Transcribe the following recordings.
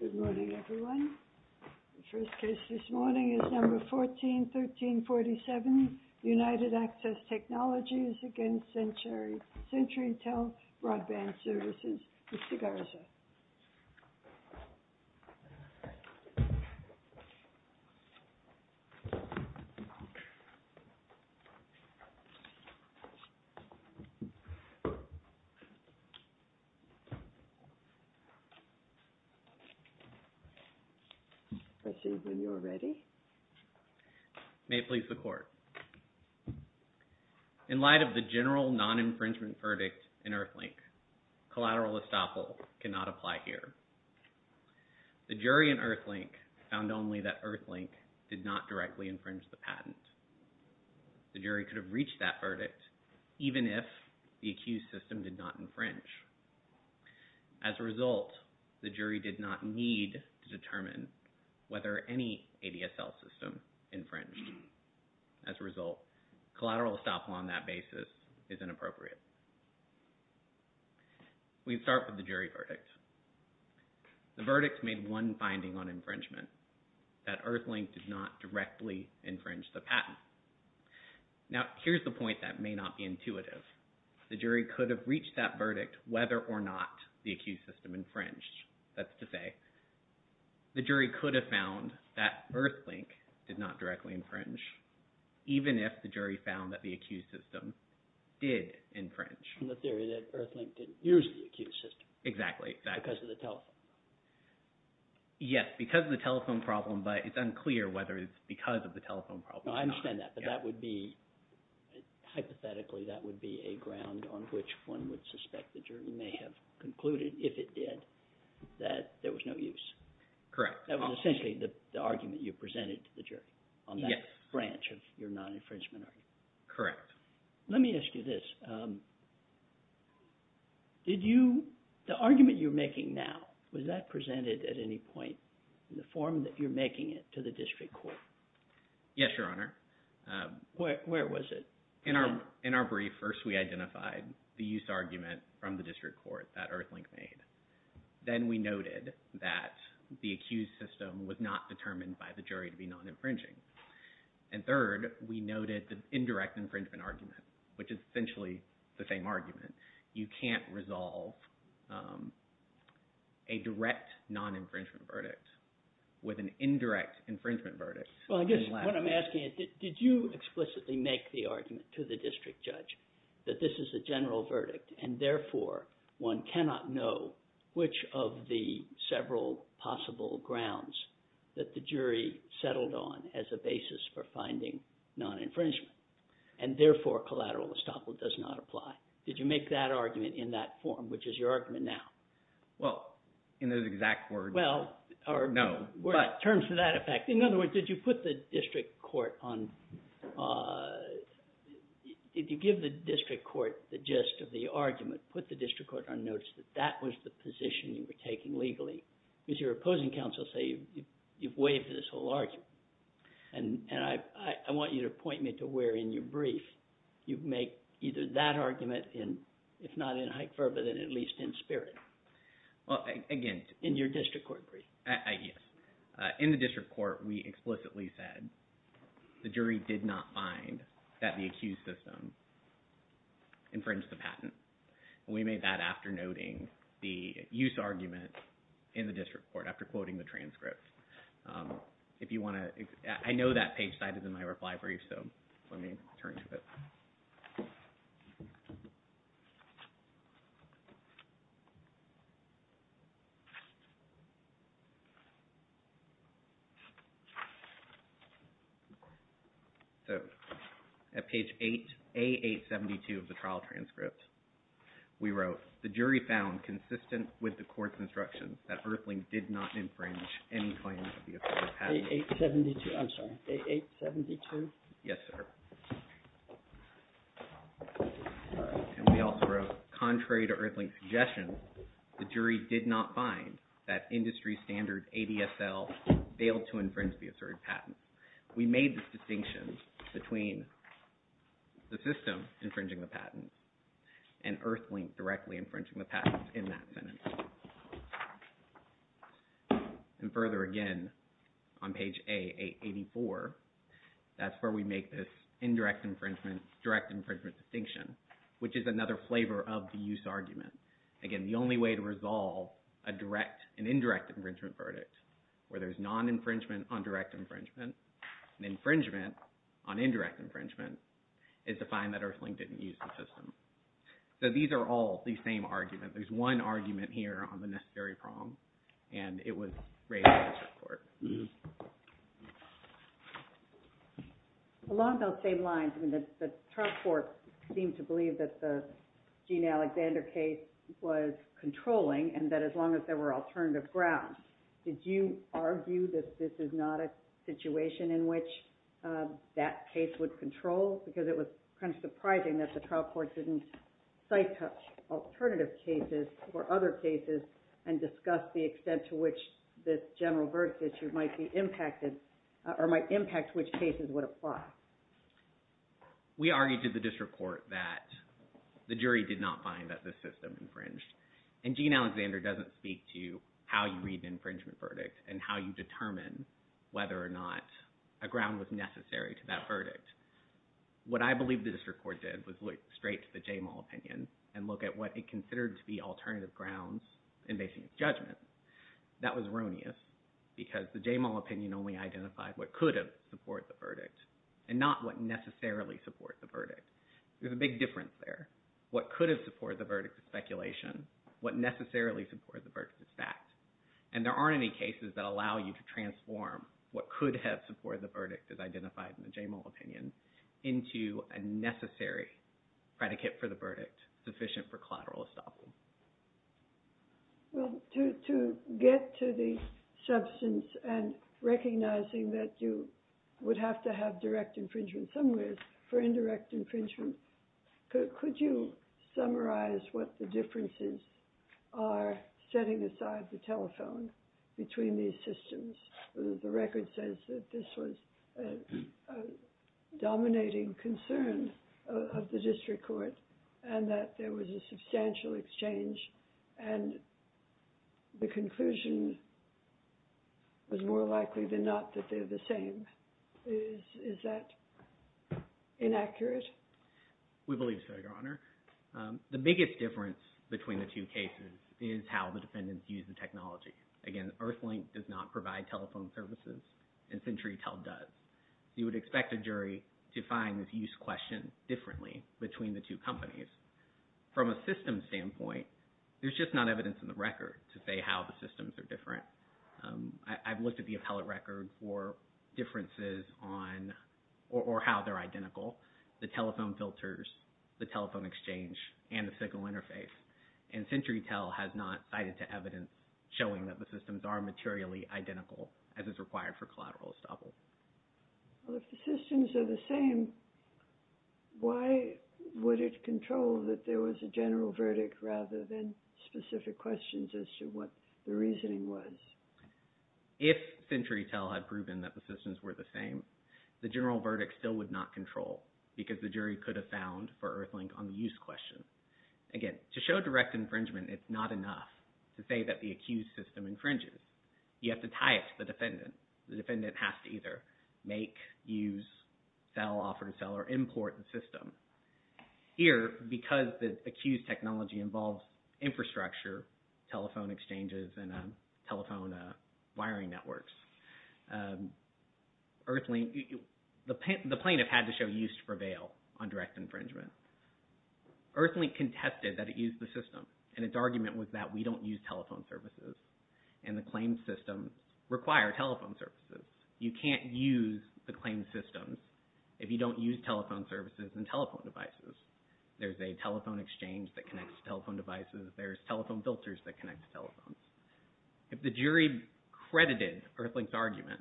Good morning everyone. The first case this morning is number 141347 United Access Technologies against CenturyTel Broadband Services. Mr. Garza. May it please the court. In light of the general non-infringement verdict in Earthlink, collateral estoppel cannot apply here. The jury in Earthlink found only that Earthlink did not directly infringe the patent. The jury could have reached that verdict even if the accused system did not infringe. As a result, the jury did not need to determine whether any ADSL system infringed. As a result, collateral estoppel on that basis is inappropriate. We start with the jury verdict. The verdict made one finding on infringement, that Earthlink did not directly infringe the patent. Now, here's the point that may not be intuitive. The jury could have reached that verdict whether or not the accused system infringed. That's to say, the jury could have found that Earthlink did not directly infringe even if the jury found that the accused system did infringe. In the theory that Earthlink did use the accused system. Exactly. Because of the telephone problem. Yes, because of the telephone problem, but it's unclear whether it's because of the telephone problem or not. I understand that, but that would be, hypothetically, that would be a ground on which one would suspect the jury may have concluded, if it did, that there was no use. Correct. That was essentially the argument you presented to the jury on that branch of your non-infringement argument. Correct. Let me ask you this. The argument you're making now, was that presented at any point in the form that you're making it to the district court? Yes, Your Honor. Where was it? In our brief, first we identified the use argument from the district court that Earthlink made. Then we noted that the accused system was not determined by the jury to be non-infringing. And third, we noted the indirect infringement argument, which is essentially the same argument. You can't resolve a direct non-infringement verdict with an indirect infringement verdict. Well, I guess what I'm asking is, did you explicitly make the argument to the district judge that this is a general verdict, and therefore one cannot know which of the several possible grounds that the jury settled on as a basis for finding non-infringement, and therefore collateral estoppel does not apply? Did you make that argument in that form, which is your argument now? Well, in those exact words, no. Well, in terms of that effect. In other words, did you put the district court on – did you give the district court the gist of the argument, put the district court on notice that that was the position you were taking legally? Because your opposing counsels say you've waived this whole argument. And I want you to point me to where in your brief you make either that argument in – if not in haec verba, then at least in spirit. Well, again – In your district court brief. Yes. In the district court, we explicitly said the jury did not find that the accused system infringed the patent. And we made that after noting the use argument in the district court, after quoting the transcript. If you want to – I know that page site is in my reply brief, so let me turn to it. So at page 8 – A872 of the trial transcript, we wrote, the jury found consistent with the court's instructions that Earthling did not infringe any claims of the accused patent. A872. I'm sorry. A872? Yes, sir. And we also wrote, contrary to Earthling's suggestion, the jury did not find that industry standard ADSL failed to infringe the asserted patent. We made this distinction between the system infringing the patent and Earthling directly infringing the patent in that sentence. And further, again, on page A884, that's where we make this indirect infringement, direct infringement distinction, which is another flavor of the use argument. Again, the only way to resolve a direct and indirect infringement verdict, where there's non-infringement on direct infringement and infringement on indirect infringement, is to find that Earthling didn't use the system. So these are all the same arguments. There's one argument here on the necessary prong, and it was raised by the Supreme Court. Along those same lines, the Trump court seemed to believe that the Gene Alexander case was controlling and that as long as there were alternative grounds, did you argue that this was not a situation in which that case would control? Because it was kind of surprising that the trial court didn't sight-touch alternative cases or other cases and discuss the extent to which this general verdict issue might be impacted or might impact which cases would apply. We argued to the district court that the jury did not find that the system infringed. And not whether or not a ground was necessary to that verdict. What I believe the district court did was look straight to the Jamal opinion and look at what it considered to be alternative grounds in basing its judgment. That was erroneous, because the Jamal opinion only identified what could have supported the verdict and not what necessarily supported the verdict. There's a big difference there. What could have supported the verdict is speculation. What necessarily supported the verdict is fact. And there aren't any cases that allow you to transform what could have supported the verdict as identified in the Jamal opinion into a necessary predicate for the verdict sufficient for collateral estoppel. Well, to get to the substance and recognizing that you would have to have direct infringement somewheres for indirect infringement, could you summarize what the differences are setting aside the telephone between these systems? The record says that this was a dominating concern of the district court and that there was a substantial exchange and the conclusion was more likely than not that they're the same. Is that inaccurate? We believe so, Your Honor. The biggest difference between the two cases is how the defendants used the technology. Again, Earthlink does not provide telephone services and CenturyTel does. You would expect a jury to find this use question differently between the two companies. From a system standpoint, there's just not evidence in the record to say how the systems are different. I've looked at the appellate record for differences or how they're identical. The telephone filters, the telephone exchange, and the signal interface. And CenturyTel has not cited to evidence showing that the systems are materially identical as is required for collateral estoppel. Well, if the systems are the same, why would it control that there was a general verdict rather than specific questions as to what the reasoning was? If CenturyTel had proven that the systems were the same, the general verdict still would not control because the jury could have found for Earthlink on the use question. Again, to show direct infringement, it's not enough to say that the accused system infringes. You have to tie it to the defendant. The defendant has to either make, use, sell, offer to sell, or import the system. Here, because the accused technology involves infrastructure, telephone exchanges, and telephone wiring networks, the plaintiff had to show use for bail on direct infringement. Earthlink contested that it used the system, and its argument was that we don't use telephone services, and the claimed systems require telephone services. You can't use the claimed systems if you don't use telephone services and telephone devices. There's a telephone exchange that connects to telephone devices. There's telephone filters that connect to telephone devices. If the jury credited Earthlink's argument,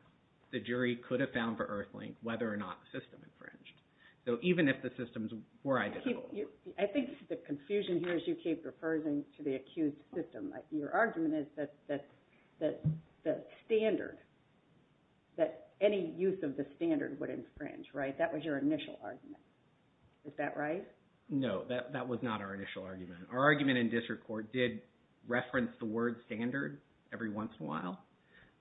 the jury could have found for Earthlink whether or not the system infringed, even if the systems were identical. I think the confusion here is you keep referring to the accused system. Your argument is that the standard, that any use of the standard would infringe, right? That was your initial argument. Is that right? No, that was not our initial argument. Our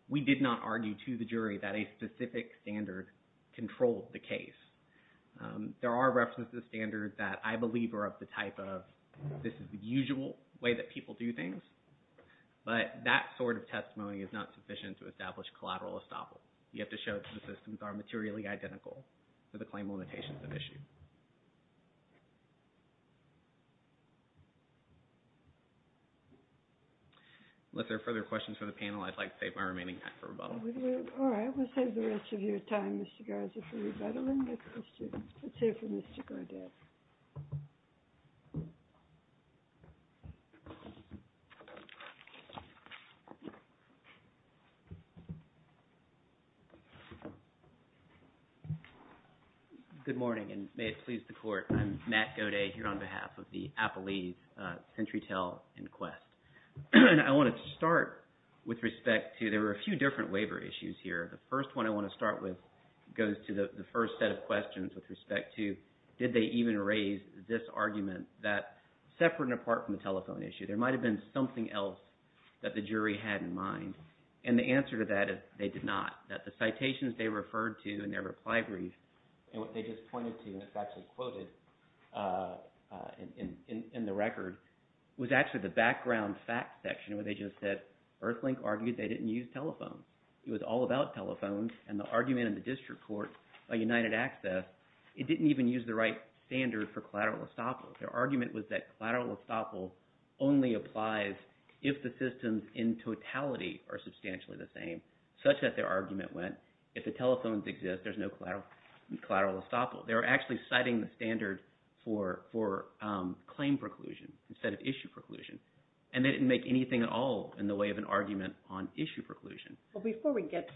We did not argue to the jury that a specific standard controlled the case. There are references to standards that I believe are of the type of, this is the usual way that people do things, but that sort of testimony is not sufficient to establish collateral estoppel. You have to show that the systems are materially identical to the claim limitations at issue. Unless there are further questions from the panel, I'd like to save my remaining time for rebuttal. All right. We'll save the rest of your time, Mr. Garza, for rebuttal. Let's hear from Mr. Gardek. Good morning, and may it please the Court. I'm Matt Goday here on behalf of the Appalachian SentryTel Inquest. I want to start with respect to, there were a few different waiver issues here. The first one I want to start with goes to the first set of questions with respect to did they even raise this argument that, separate and apart from the telephone issue, there might have been something else that the jury had in mind. And the answer to that is they did not. That the citations they referred to in their reply brief, and what they just pointed to, and it's actually quoted in the record, was actually the background fact section where they just said Earthlink argued they didn't use telephones. It was all about telephones, and the argument in the district court by United Access, it didn't even use the right standard for collateral estoppel. Their argument was that collateral estoppel only applies if the systems in totality are substantially the same, such that their argument went, if the telephones exist, there's no collateral estoppel. They were actually citing the standard for claim preclusion instead of issue preclusion, and they didn't make anything at all in the way of an argument on issue preclusion. Well, before we get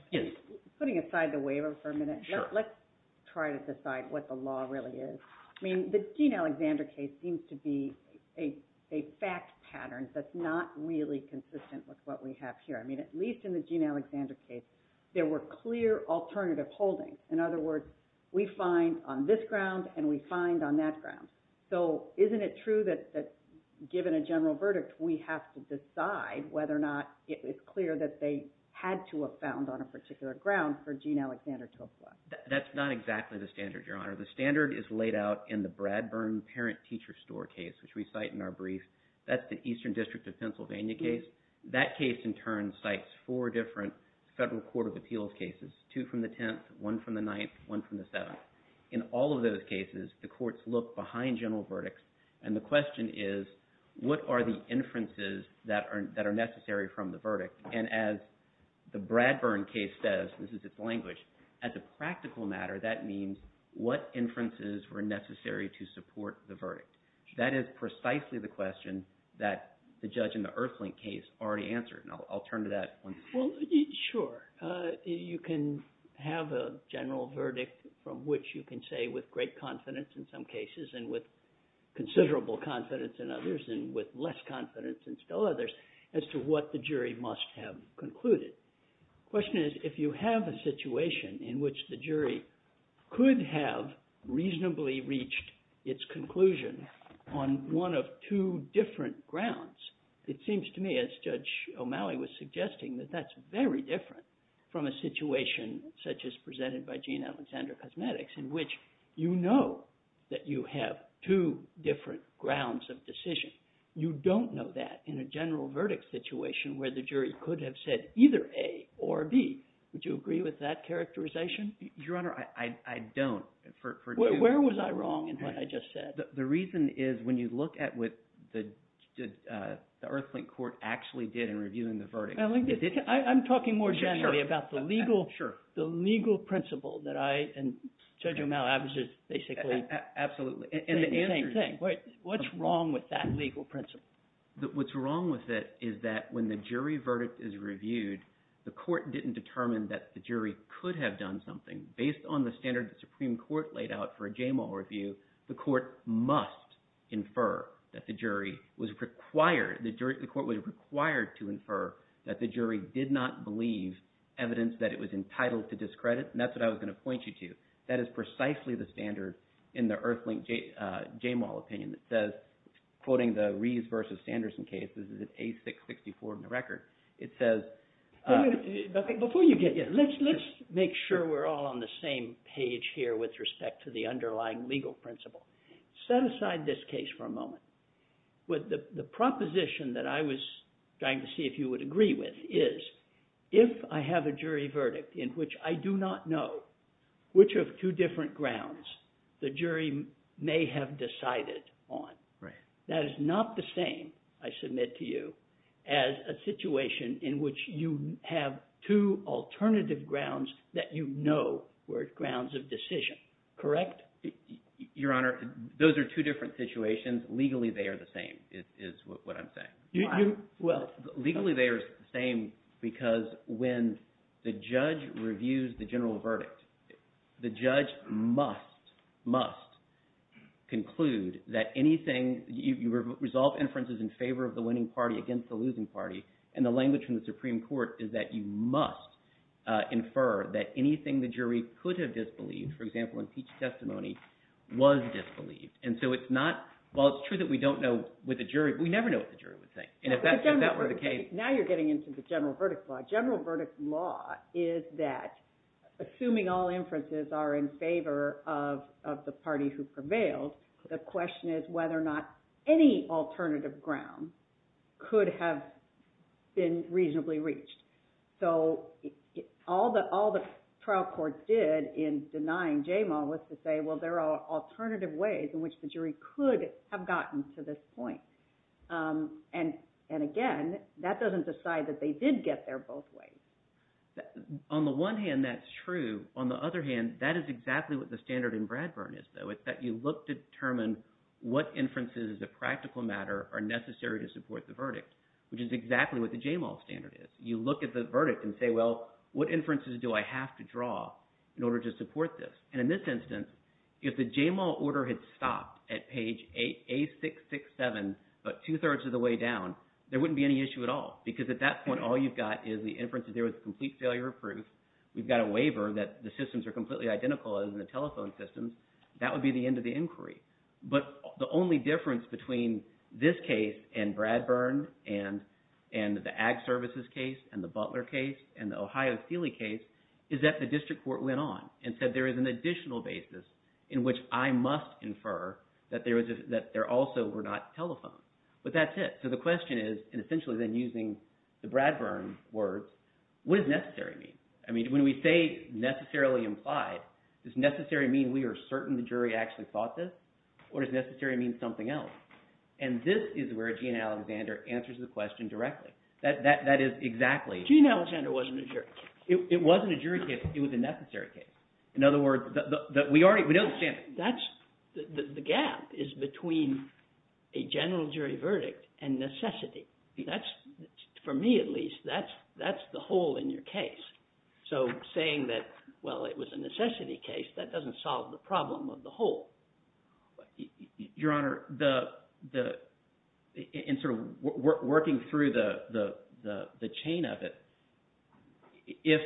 putting aside the waiver for a minute, let's try to decide what the law really is. I mean, the Gene Alexander case seems to be a fact pattern that's not really consistent with what we have here. I mean, at least in the Gene Alexander case, there were clear alternative holdings. In other words, we find on this ground, and we find on that ground. So isn't it true that given a general verdict, we have to decide whether or not it's clear that they had to have found on a particular ground for Gene Alexander to apply? That's not exactly the standard, Your Honor. The standard is laid out in the Bradburn parent-teacher store case, which we cite in our brief. That's the Eastern District of Pennsylvania case. That case, in turn, cites four different federal court of appeals cases, two from the 10th, one from the 9th, one from the 7th. In all of those cases, the courts look behind general verdicts, and the question is, what are the inferences that are necessary from the verdict? And as the Bradburn case says, this is its language, as a practical matter, that means what inferences were necessary to support the verdict? That is precisely the question that the judge in the Earthlink case already answered, and I'll turn to that once more. Well, sure. You can have a general verdict from which you can say with great confidence in some cases, and with considerable confidence in others, and with less confidence in still others, as to what the jury must have concluded. The question is, if you have a situation in which the jury could have reasonably reached its conclusion on one of two different grounds, it seems to me, as Judge O'Malley was suggesting, that that's very different from a situation such as presented by Gene Alexander Cosmetics, in which you know that you have two different grounds of decision. You don't know that in a general verdict situation where the jury could have said either A or B. Would you agree with that characterization? Your Honor, I don't. Where was I wrong in what I just said? The reason is, when you look at what the Earthlink court actually did in reviewing the verdict… I'm talking more generally about the legal principle that I and Judge O'Malley basically… Absolutely. What's wrong with that legal principle? What's wrong with it is that when the jury verdict is reviewed, the court didn't determine that the jury could have done something. Based on the standard the Supreme Court laid out for a JMAL review, the court must infer that the jury was required… the court was required to infer that the jury did not believe evidence that it was entitled to discredit, and that's what I was going to point you to. That is precisely the standard in the Earthlink JMAL opinion that says, quoting the Rees v. Sanderson case, this is an A664 in the record, it says… Before you get… let's make sure we're all on the same page here with respect to the underlying legal principle. Set aside this case for a moment. The proposition that I was trying to see if you would agree with is, if I have a jury verdict in which I do not know which of two different grounds the jury may have decided on, that is not the same, I submit to you, as a situation in which you have two alternative grounds that you know were grounds of decision, correct? Your Honor, those are two different situations. Legally they are the same is what I'm saying. Why? Legally they are the same because when the judge reviews the general verdict, the judge must, must conclude that anything… you resolve inferences in favor of the winning party against the losing party, and the language from the Supreme Court is that you must infer that anything the jury could have disbelieved, for example, in Peach's testimony, was disbelieved. And so it's not… while it's true that we don't know what the jury… we never know what the jury would say. And if that were the case… Now you're getting into the general verdict law. Assuming all inferences are in favor of the party who prevailed, the question is whether or not any alternative ground could have been reasonably reached. So all the trial court did in denying Jamal was to say, well, there are alternative ways in which the jury could have gotten to this point. And again, that doesn't decide that they did get there both ways. On the one hand, that's true. On the other hand, that is exactly what the standard in Bradburn is, though. It's that you look to determine what inferences as a practical matter are necessary to support the verdict, which is exactly what the Jamal standard is. You look at the verdict and say, well, what inferences do I have to draw in order to support this? And in this instance, if the Jamal order had stopped at page A667 about two-thirds of the way down, there wouldn't be any issue at all because at that point all you've got is the inferences there with complete failure proof. We've got a waiver that the systems are completely identical as in the telephone systems. That would be the end of the inquiry. But the only difference between this case and Bradburn and the Ag Services case and the Butler case and the Ohio Sealy case is that the district court went on and said there is an additional basis in which I must infer that there also were not telephones. But that's it. So the question is, and essentially then using the Bradburn words, what does necessary mean? I mean when we say necessarily implied, does necessary mean we are certain the jury actually thought this? Or does necessary mean something else? And this is where Gene Alexander answers the question directly. That is exactly – Well, Gene Alexander wasn't a jury. It wasn't a jury case. It was a necessary case. In other words, we already – we don't – That's – the gap is between a general jury verdict and necessity. That's – for me at least, that's the hole in your case. So saying that, well, it was a necessity case, that doesn't solve the problem of the hole. Your Honor, the – in sort of working through the chain of it, if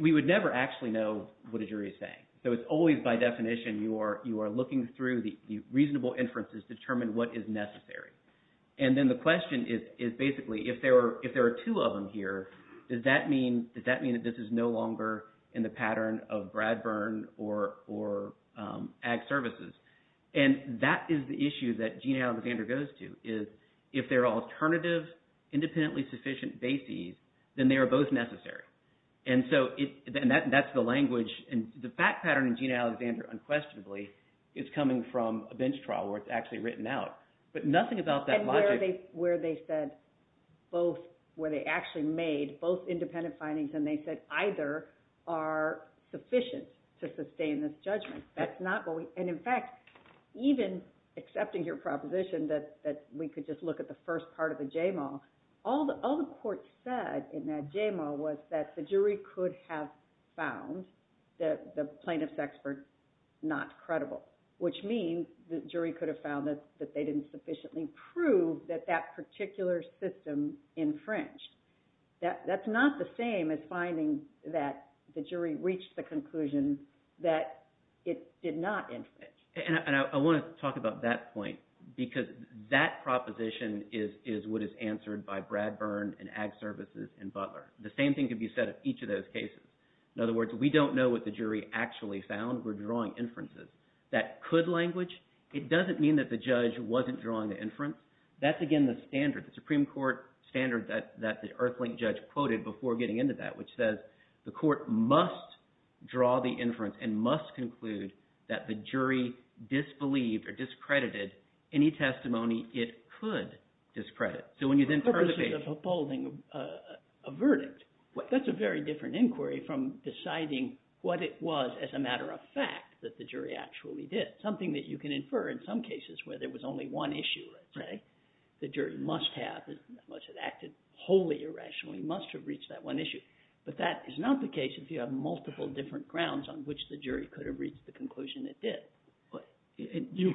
– we would never actually know what a jury is saying. So it's always by definition you are looking through the reasonable inferences to determine what is necessary. And then the question is basically if there are two of them here, does that mean that this is no longer in the pattern of Bradburn or ag services? And that is the issue that Gene Alexander goes to is if there are alternative independently sufficient bases, then they are both necessary. And so that's the language. And the fact pattern in Gene Alexander unquestionably is coming from a bench trial where it's actually written out. But nothing about that logic – And where they said both – where they actually made both independent findings and they said either are sufficient to sustain this judgment. That's not what we – and in fact, even accepting your proposition that we could just look at the first part of the JMAW, all the court said in that JMAW was that the jury could have found the plaintiff's expert not credible, which means the jury could have found that they didn't sufficiently prove that that particular system infringed. That's not the same as finding that the jury reached the conclusion that it did not infringe. And I want to talk about that point because that proposition is what is answered by Bradburn and ag services and Butler. The same thing could be said of each of those cases. In other words, we don't know what the jury actually found. We're drawing inferences. That could language, it doesn't mean that the judge wasn't drawing the inference. That's again the standard, the Supreme Court standard that the Earthlink judge quoted before getting into that, which says the court must draw the inference and must conclude that the jury disbelieved or discredited any testimony it could discredit. So when you then turn the case – A verdict. That's a very different inquiry from deciding what it was as a matter of fact that the jury actually did, something that you can infer in some cases where there was only one issue, let's say. The jury must have, must have acted wholly irrationally, must have reached that one issue. But that is not the case if you have multiple different grounds on which the jury could have reached the conclusion it did. You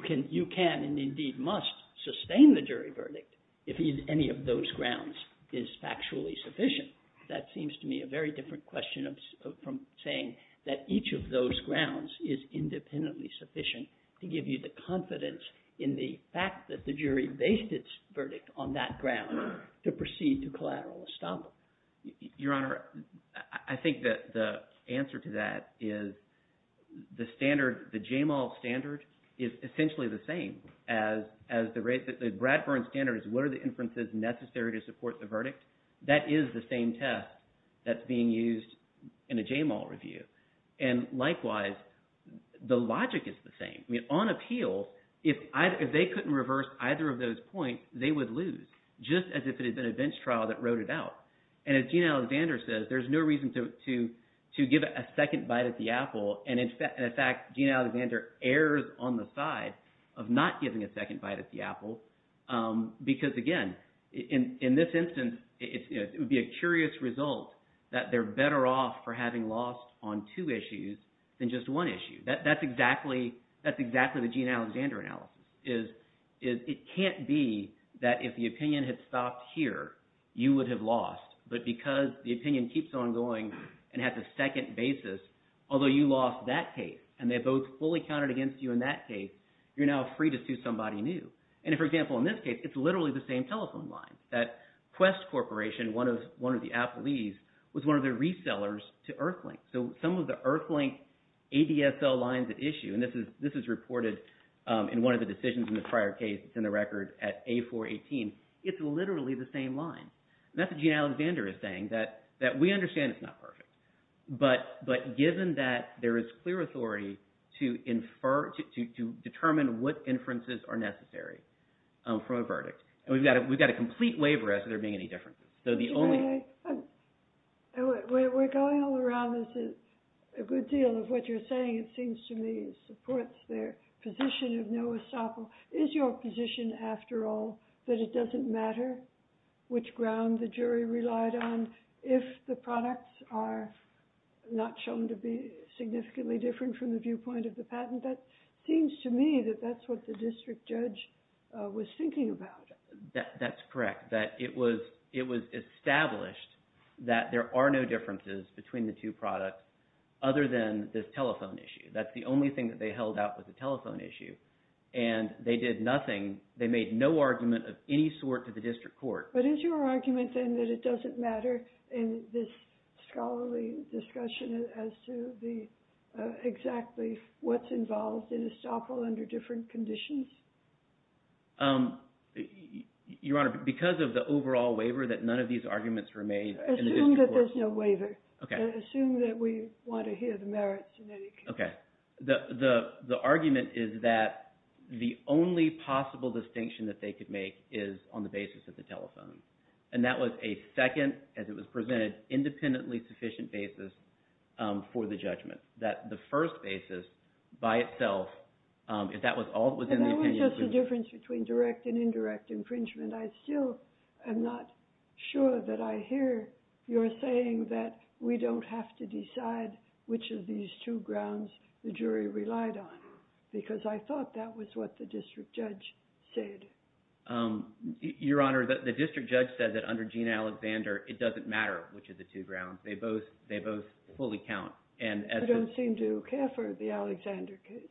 can and indeed must sustain the jury verdict if any of those grounds is factually sufficient. That seems to me a very different question from saying that each of those grounds is independently sufficient to give you the confidence in the fact that the jury based its verdict on that ground to proceed to collateral estoppel. Your Honor, I think that the answer to that is the standard, the JAMAL standard is essentially the same as the – the Bradburn standard is what are the inferences necessary to support the verdict. That is the same test that's being used in a JAMAL review. And likewise, the logic is the same. I mean on appeal, if they couldn't reverse either of those points, they would lose just as if it had been a bench trial that wrote it out. And as Gina Alexander says, there's no reason to give a second bite at the apple. And in fact, Gina Alexander errs on the side of not giving a second bite at the apple because again, in this instance, it would be a curious result that they're better off for having lost on two issues than just one issue. That's exactly – that's exactly the Gina Alexander analysis, is it can't be that if the opinion had stopped here, you would have lost. But because the opinion keeps on going and has a second basis, although you lost that case and they both fully counted against you in that case, you're now free to sue somebody new. And for example, in this case, it's literally the same telephone line. That Quest Corporation, one of the Applees, was one of the resellers to Earthlink. So some of the Earthlink ADSL lines at issue, and this is reported in one of the decisions in the prior case that's in the record at A418, it's literally the same line. And that's what Gina Alexander is saying, that we understand it's not perfect. But given that there is clear authority to infer – to determine what inferences are necessary for a verdict. And we've got a complete waiver as to there being any differences. We're going all around this a good deal of what you're saying. It seems to me it supports their position of no estoppel. Is your position, after all, that it doesn't matter which ground the jury relied on if the products are not shown to be significantly different from the viewpoint of the patent? That seems to me that that's what the district judge was thinking about. That's correct, that it was established that there are no differences between the two products other than this telephone issue. That's the only thing that they held out was the telephone issue. And they did nothing – they made no argument of any sort to the district court. But is your argument, then, that it doesn't matter in this scholarly discussion as to the – exactly what's involved in estoppel under different conditions? Your Honor, because of the overall waiver, that none of these arguments were made in the district court. Assume that there's no waiver. Okay. Assume that we want to hear the merits in any case. Okay. The argument is that the only possible distinction that they could make is on the basis of the telephone. And that was a second, as it was presented, independently sufficient basis for the judgment. That the first basis by itself, if that was all that was in the opinion. And that was just the difference between direct and indirect infringement. I still am not sure that I hear your saying that we don't have to decide which of these two grounds the jury relied on because I thought that was what the district judge said. Your Honor, the district judge said that under Gene Alexander, it doesn't matter which of the two grounds. They both fully count. I don't seem to care for the Alexander case.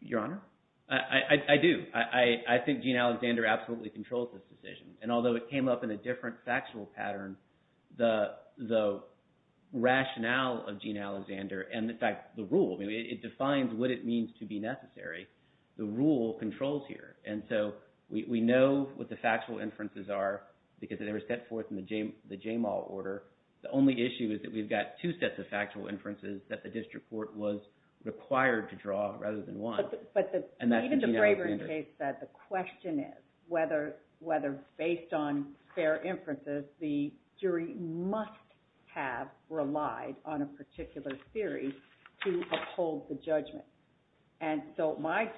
Your Honor, I do. I think Gene Alexander absolutely controls this decision. And although it came up in a different factual pattern, the rationale of Gene Alexander and, in fact, the rule. It defines what it means to be necessary. The rule controls here. And so we know what the factual inferences are because they were set forth in the JAMAL order. The only issue is that we've got two sets of factual inferences that the district court was required to draw rather than one. But even the Braverton case said the question is whether, based on their inferences, the jury must have relied on a particular theory to uphold the judgment. And so my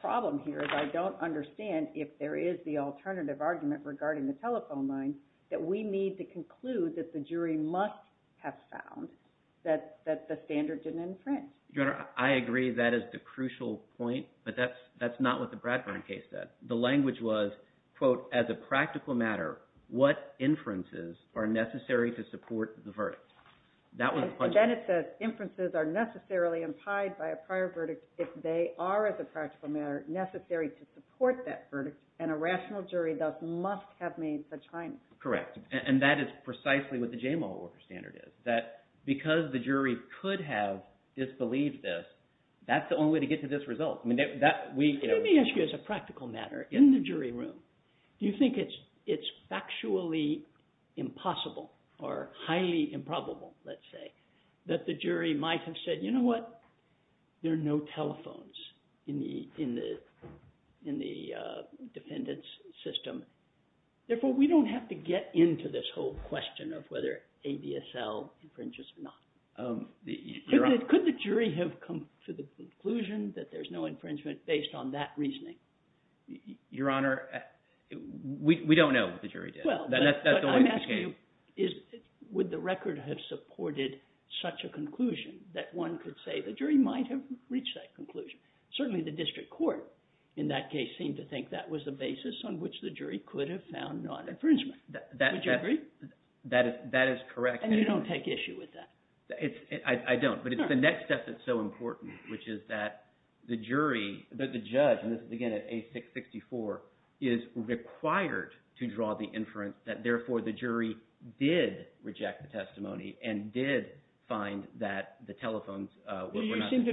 problem here is I don't understand if there is the alternative argument regarding the telephone line that we need to conclude that the jury must have found that the standard didn't infringe. Your Honor, I agree that is the crucial point, but that's not what the Bradburn case said. The language was, quote, as a practical matter, what inferences are necessary to support the verdict? And then it says, inferences are necessarily implied by a prior verdict if they are, as a practical matter, necessary to support that verdict, and a rational jury thus must have made such findings. Correct, and that is precisely what the JAMAL standard is, that because the jury could have disbelieved this, that's the only way to get to this result. Let me ask you, as a practical matter, in the jury room, do you think it's factually impossible or highly improbable, let's say, that the jury might have said, you know what, there are no telephones in the defendant's system. Therefore, we don't have to get into this whole question of whether ABSL infringes or not. Could the jury have come to the conclusion that there's no infringement based on that reasoning? Your Honor, we don't know what the jury did. I'm asking you, would the record have supported such a conclusion that one could say the jury might have reached that conclusion? Certainly the district court in that case seemed to think that was the basis on which the jury could have found non-infringement. Would you agree? That is correct. And you don't take issue with that? I don't, but it's the next step that's so important, which is that the jury, the judge, and this is again at A664, is required to draw the inference that therefore the jury did reject the testimony and did find that the telephones were not… Even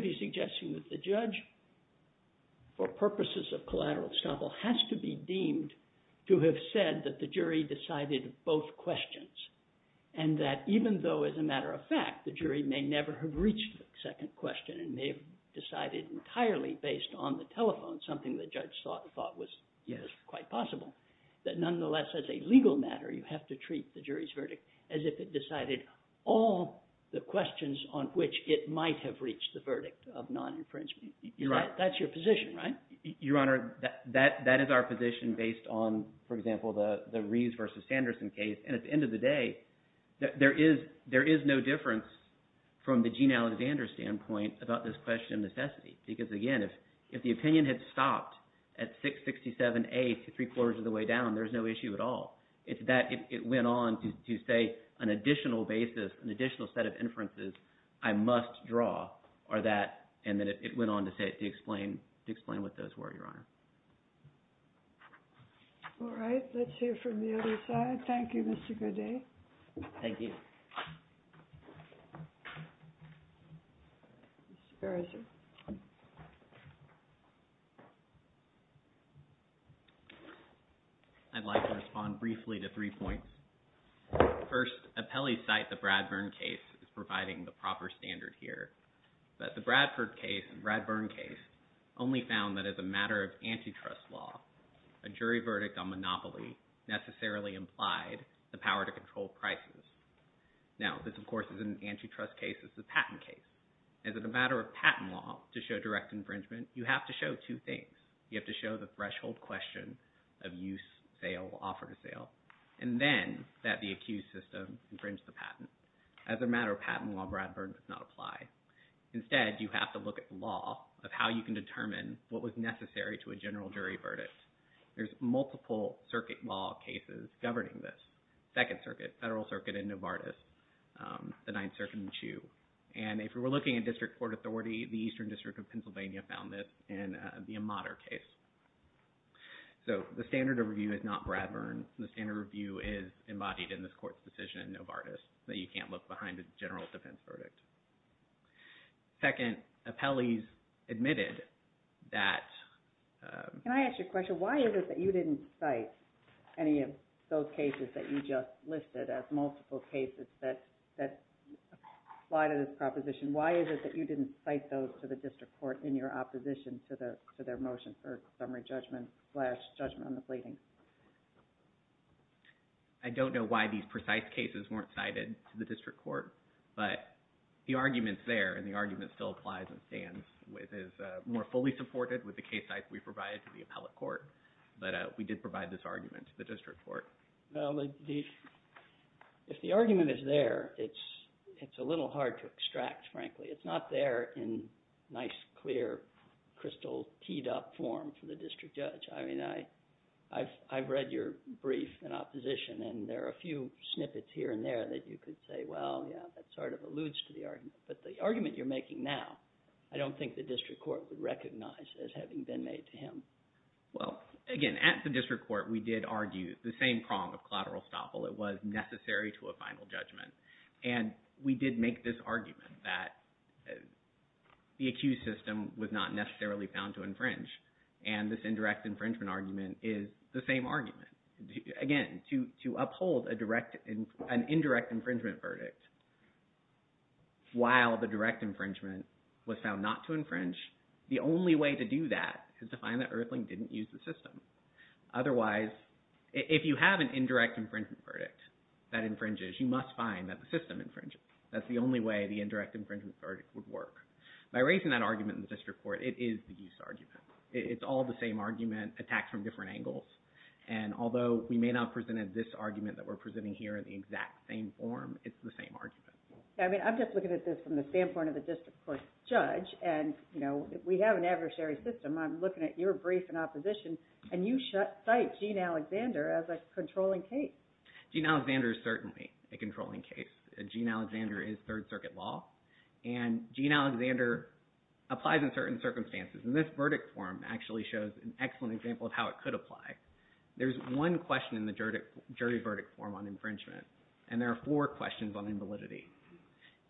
though, as a matter of fact, the jury may never have reached the second question and may have decided entirely based on the telephone, something the judge thought was quite possible. That nonetheless, as a legal matter, you have to treat the jury's verdict as if it decided all the questions on which it might have reached the verdict of non-infringement. That's your position, right? Your Honor, that is our position based on, for example, the Reeves v. Sanderson case. And at the end of the day, there is no difference from the Gene Alexander standpoint about this question of necessity because, again, if the opinion had stopped at 667A three-quarters of the way down, there's no issue at all. It's that it went on to say an additional basis, an additional set of inferences I must draw are that, and then it went on to say, to explain what those were, Your Honor. All right. Let's hear from the other side. Thank you, Mr. Gaudet. Thank you. Mr. Beresford. I'd like to respond briefly to three points. First, appellees cite the Bradburn case as providing the proper standard here. But the Bradford case and Bradburn case only found that as a matter of antitrust law, a jury verdict on monopoly necessarily implied the power to control prices. Now, this, of course, isn't an antitrust case. This is a patent case. As a matter of patent law, to show direct infringement, you have to show two things. You have to show the threshold question of use, sale, offer to sale, and then that the accused system infringed the patent. As a matter of patent law, Bradburn does not apply. Instead, you have to look at the law of how you can determine what was necessary to a general jury verdict. There's multiple circuit law cases governing this. Second Circuit, Federal Circuit, and Novartis, the Ninth Circuit in Chu. And if we're looking at district court authority, the Eastern District of Pennsylvania found this in the Amater case. So the standard of review is not Bradburn. The standard of review is embodied in this court's decision in Novartis that you can't look behind a general defense verdict. Second, appellees admitted that... Can I ask you a question? Why is it that you didn't cite any of those cases that you just listed as multiple cases that apply to this proposition? Why is it that you didn't cite those to the district court in your opposition to their motion for summary judgment slash judgment on the pleadings? I don't know why these precise cases weren't cited to the district court. But the argument's there, and the argument still applies and stands. It is more fully supported with the case sites we provided to the appellate court. But we did provide this argument to the district court. Well, if the argument is there, it's a little hard to extract, frankly. It's not there in nice, clear, crystal teed-up form for the district judge. I mean, I've read your brief in opposition, and there are a few snippets here and there that you could say, well, yeah, that sort of alludes to the argument. But the argument you're making now, I don't think the district court would recognize as having been made to him. Well, again, at the district court, we did argue the same prong of collateral estoppel. It was necessary to a final judgment. And we did make this argument that the accused system was not necessarily found to infringe. And this indirect infringement argument is the same argument. Again, to uphold an indirect infringement verdict while the direct infringement was found not to infringe, the only way to do that is to find that Earthling didn't use the system. Otherwise, if you have an indirect infringement verdict that infringes, you must find that the system infringes. That's the only way the indirect infringement verdict would work. By raising that argument in the district court, it is the use argument. It's all the same argument attacked from different angles. And although we may not have presented this argument that we're presenting here in the exact same form, it's the same argument. I mean, I'm just looking at this from the standpoint of the district court judge. And, you know, we have an adversary system. I'm looking at your brief in opposition, and you cite Gene Alexander as a controlling case. Gene Alexander is certainly a controlling case. Gene Alexander is Third Circuit law. And Gene Alexander applies in certain circumstances. And this verdict form actually shows an excellent example of how it could apply. There's one question in the jury verdict form on infringement, and there are four questions on invalidity.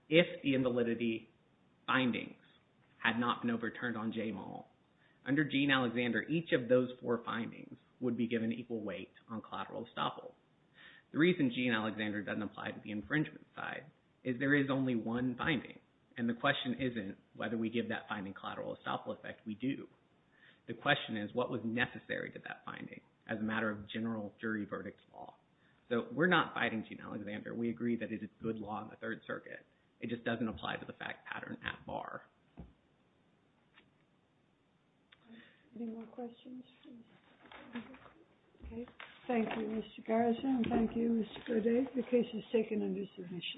If the invalidity findings had not been overturned on Jay Mall, under Gene Alexander, each of those four findings would be given equal weight on collateral estoppel. The reason Gene Alexander doesn't apply to the infringement side is there is only one finding. And the question isn't whether we give that finding collateral estoppel effect. We do. The question is what was necessary to that finding as a matter of general jury verdict law. So we're not fighting Gene Alexander. We agree that it is good law in the Third Circuit. It just doesn't apply to the fact pattern at bar. Any more questions? Okay. Thank you, Mr. Garrison. Thank you, Mr. Bourdais. The case is taken under submission.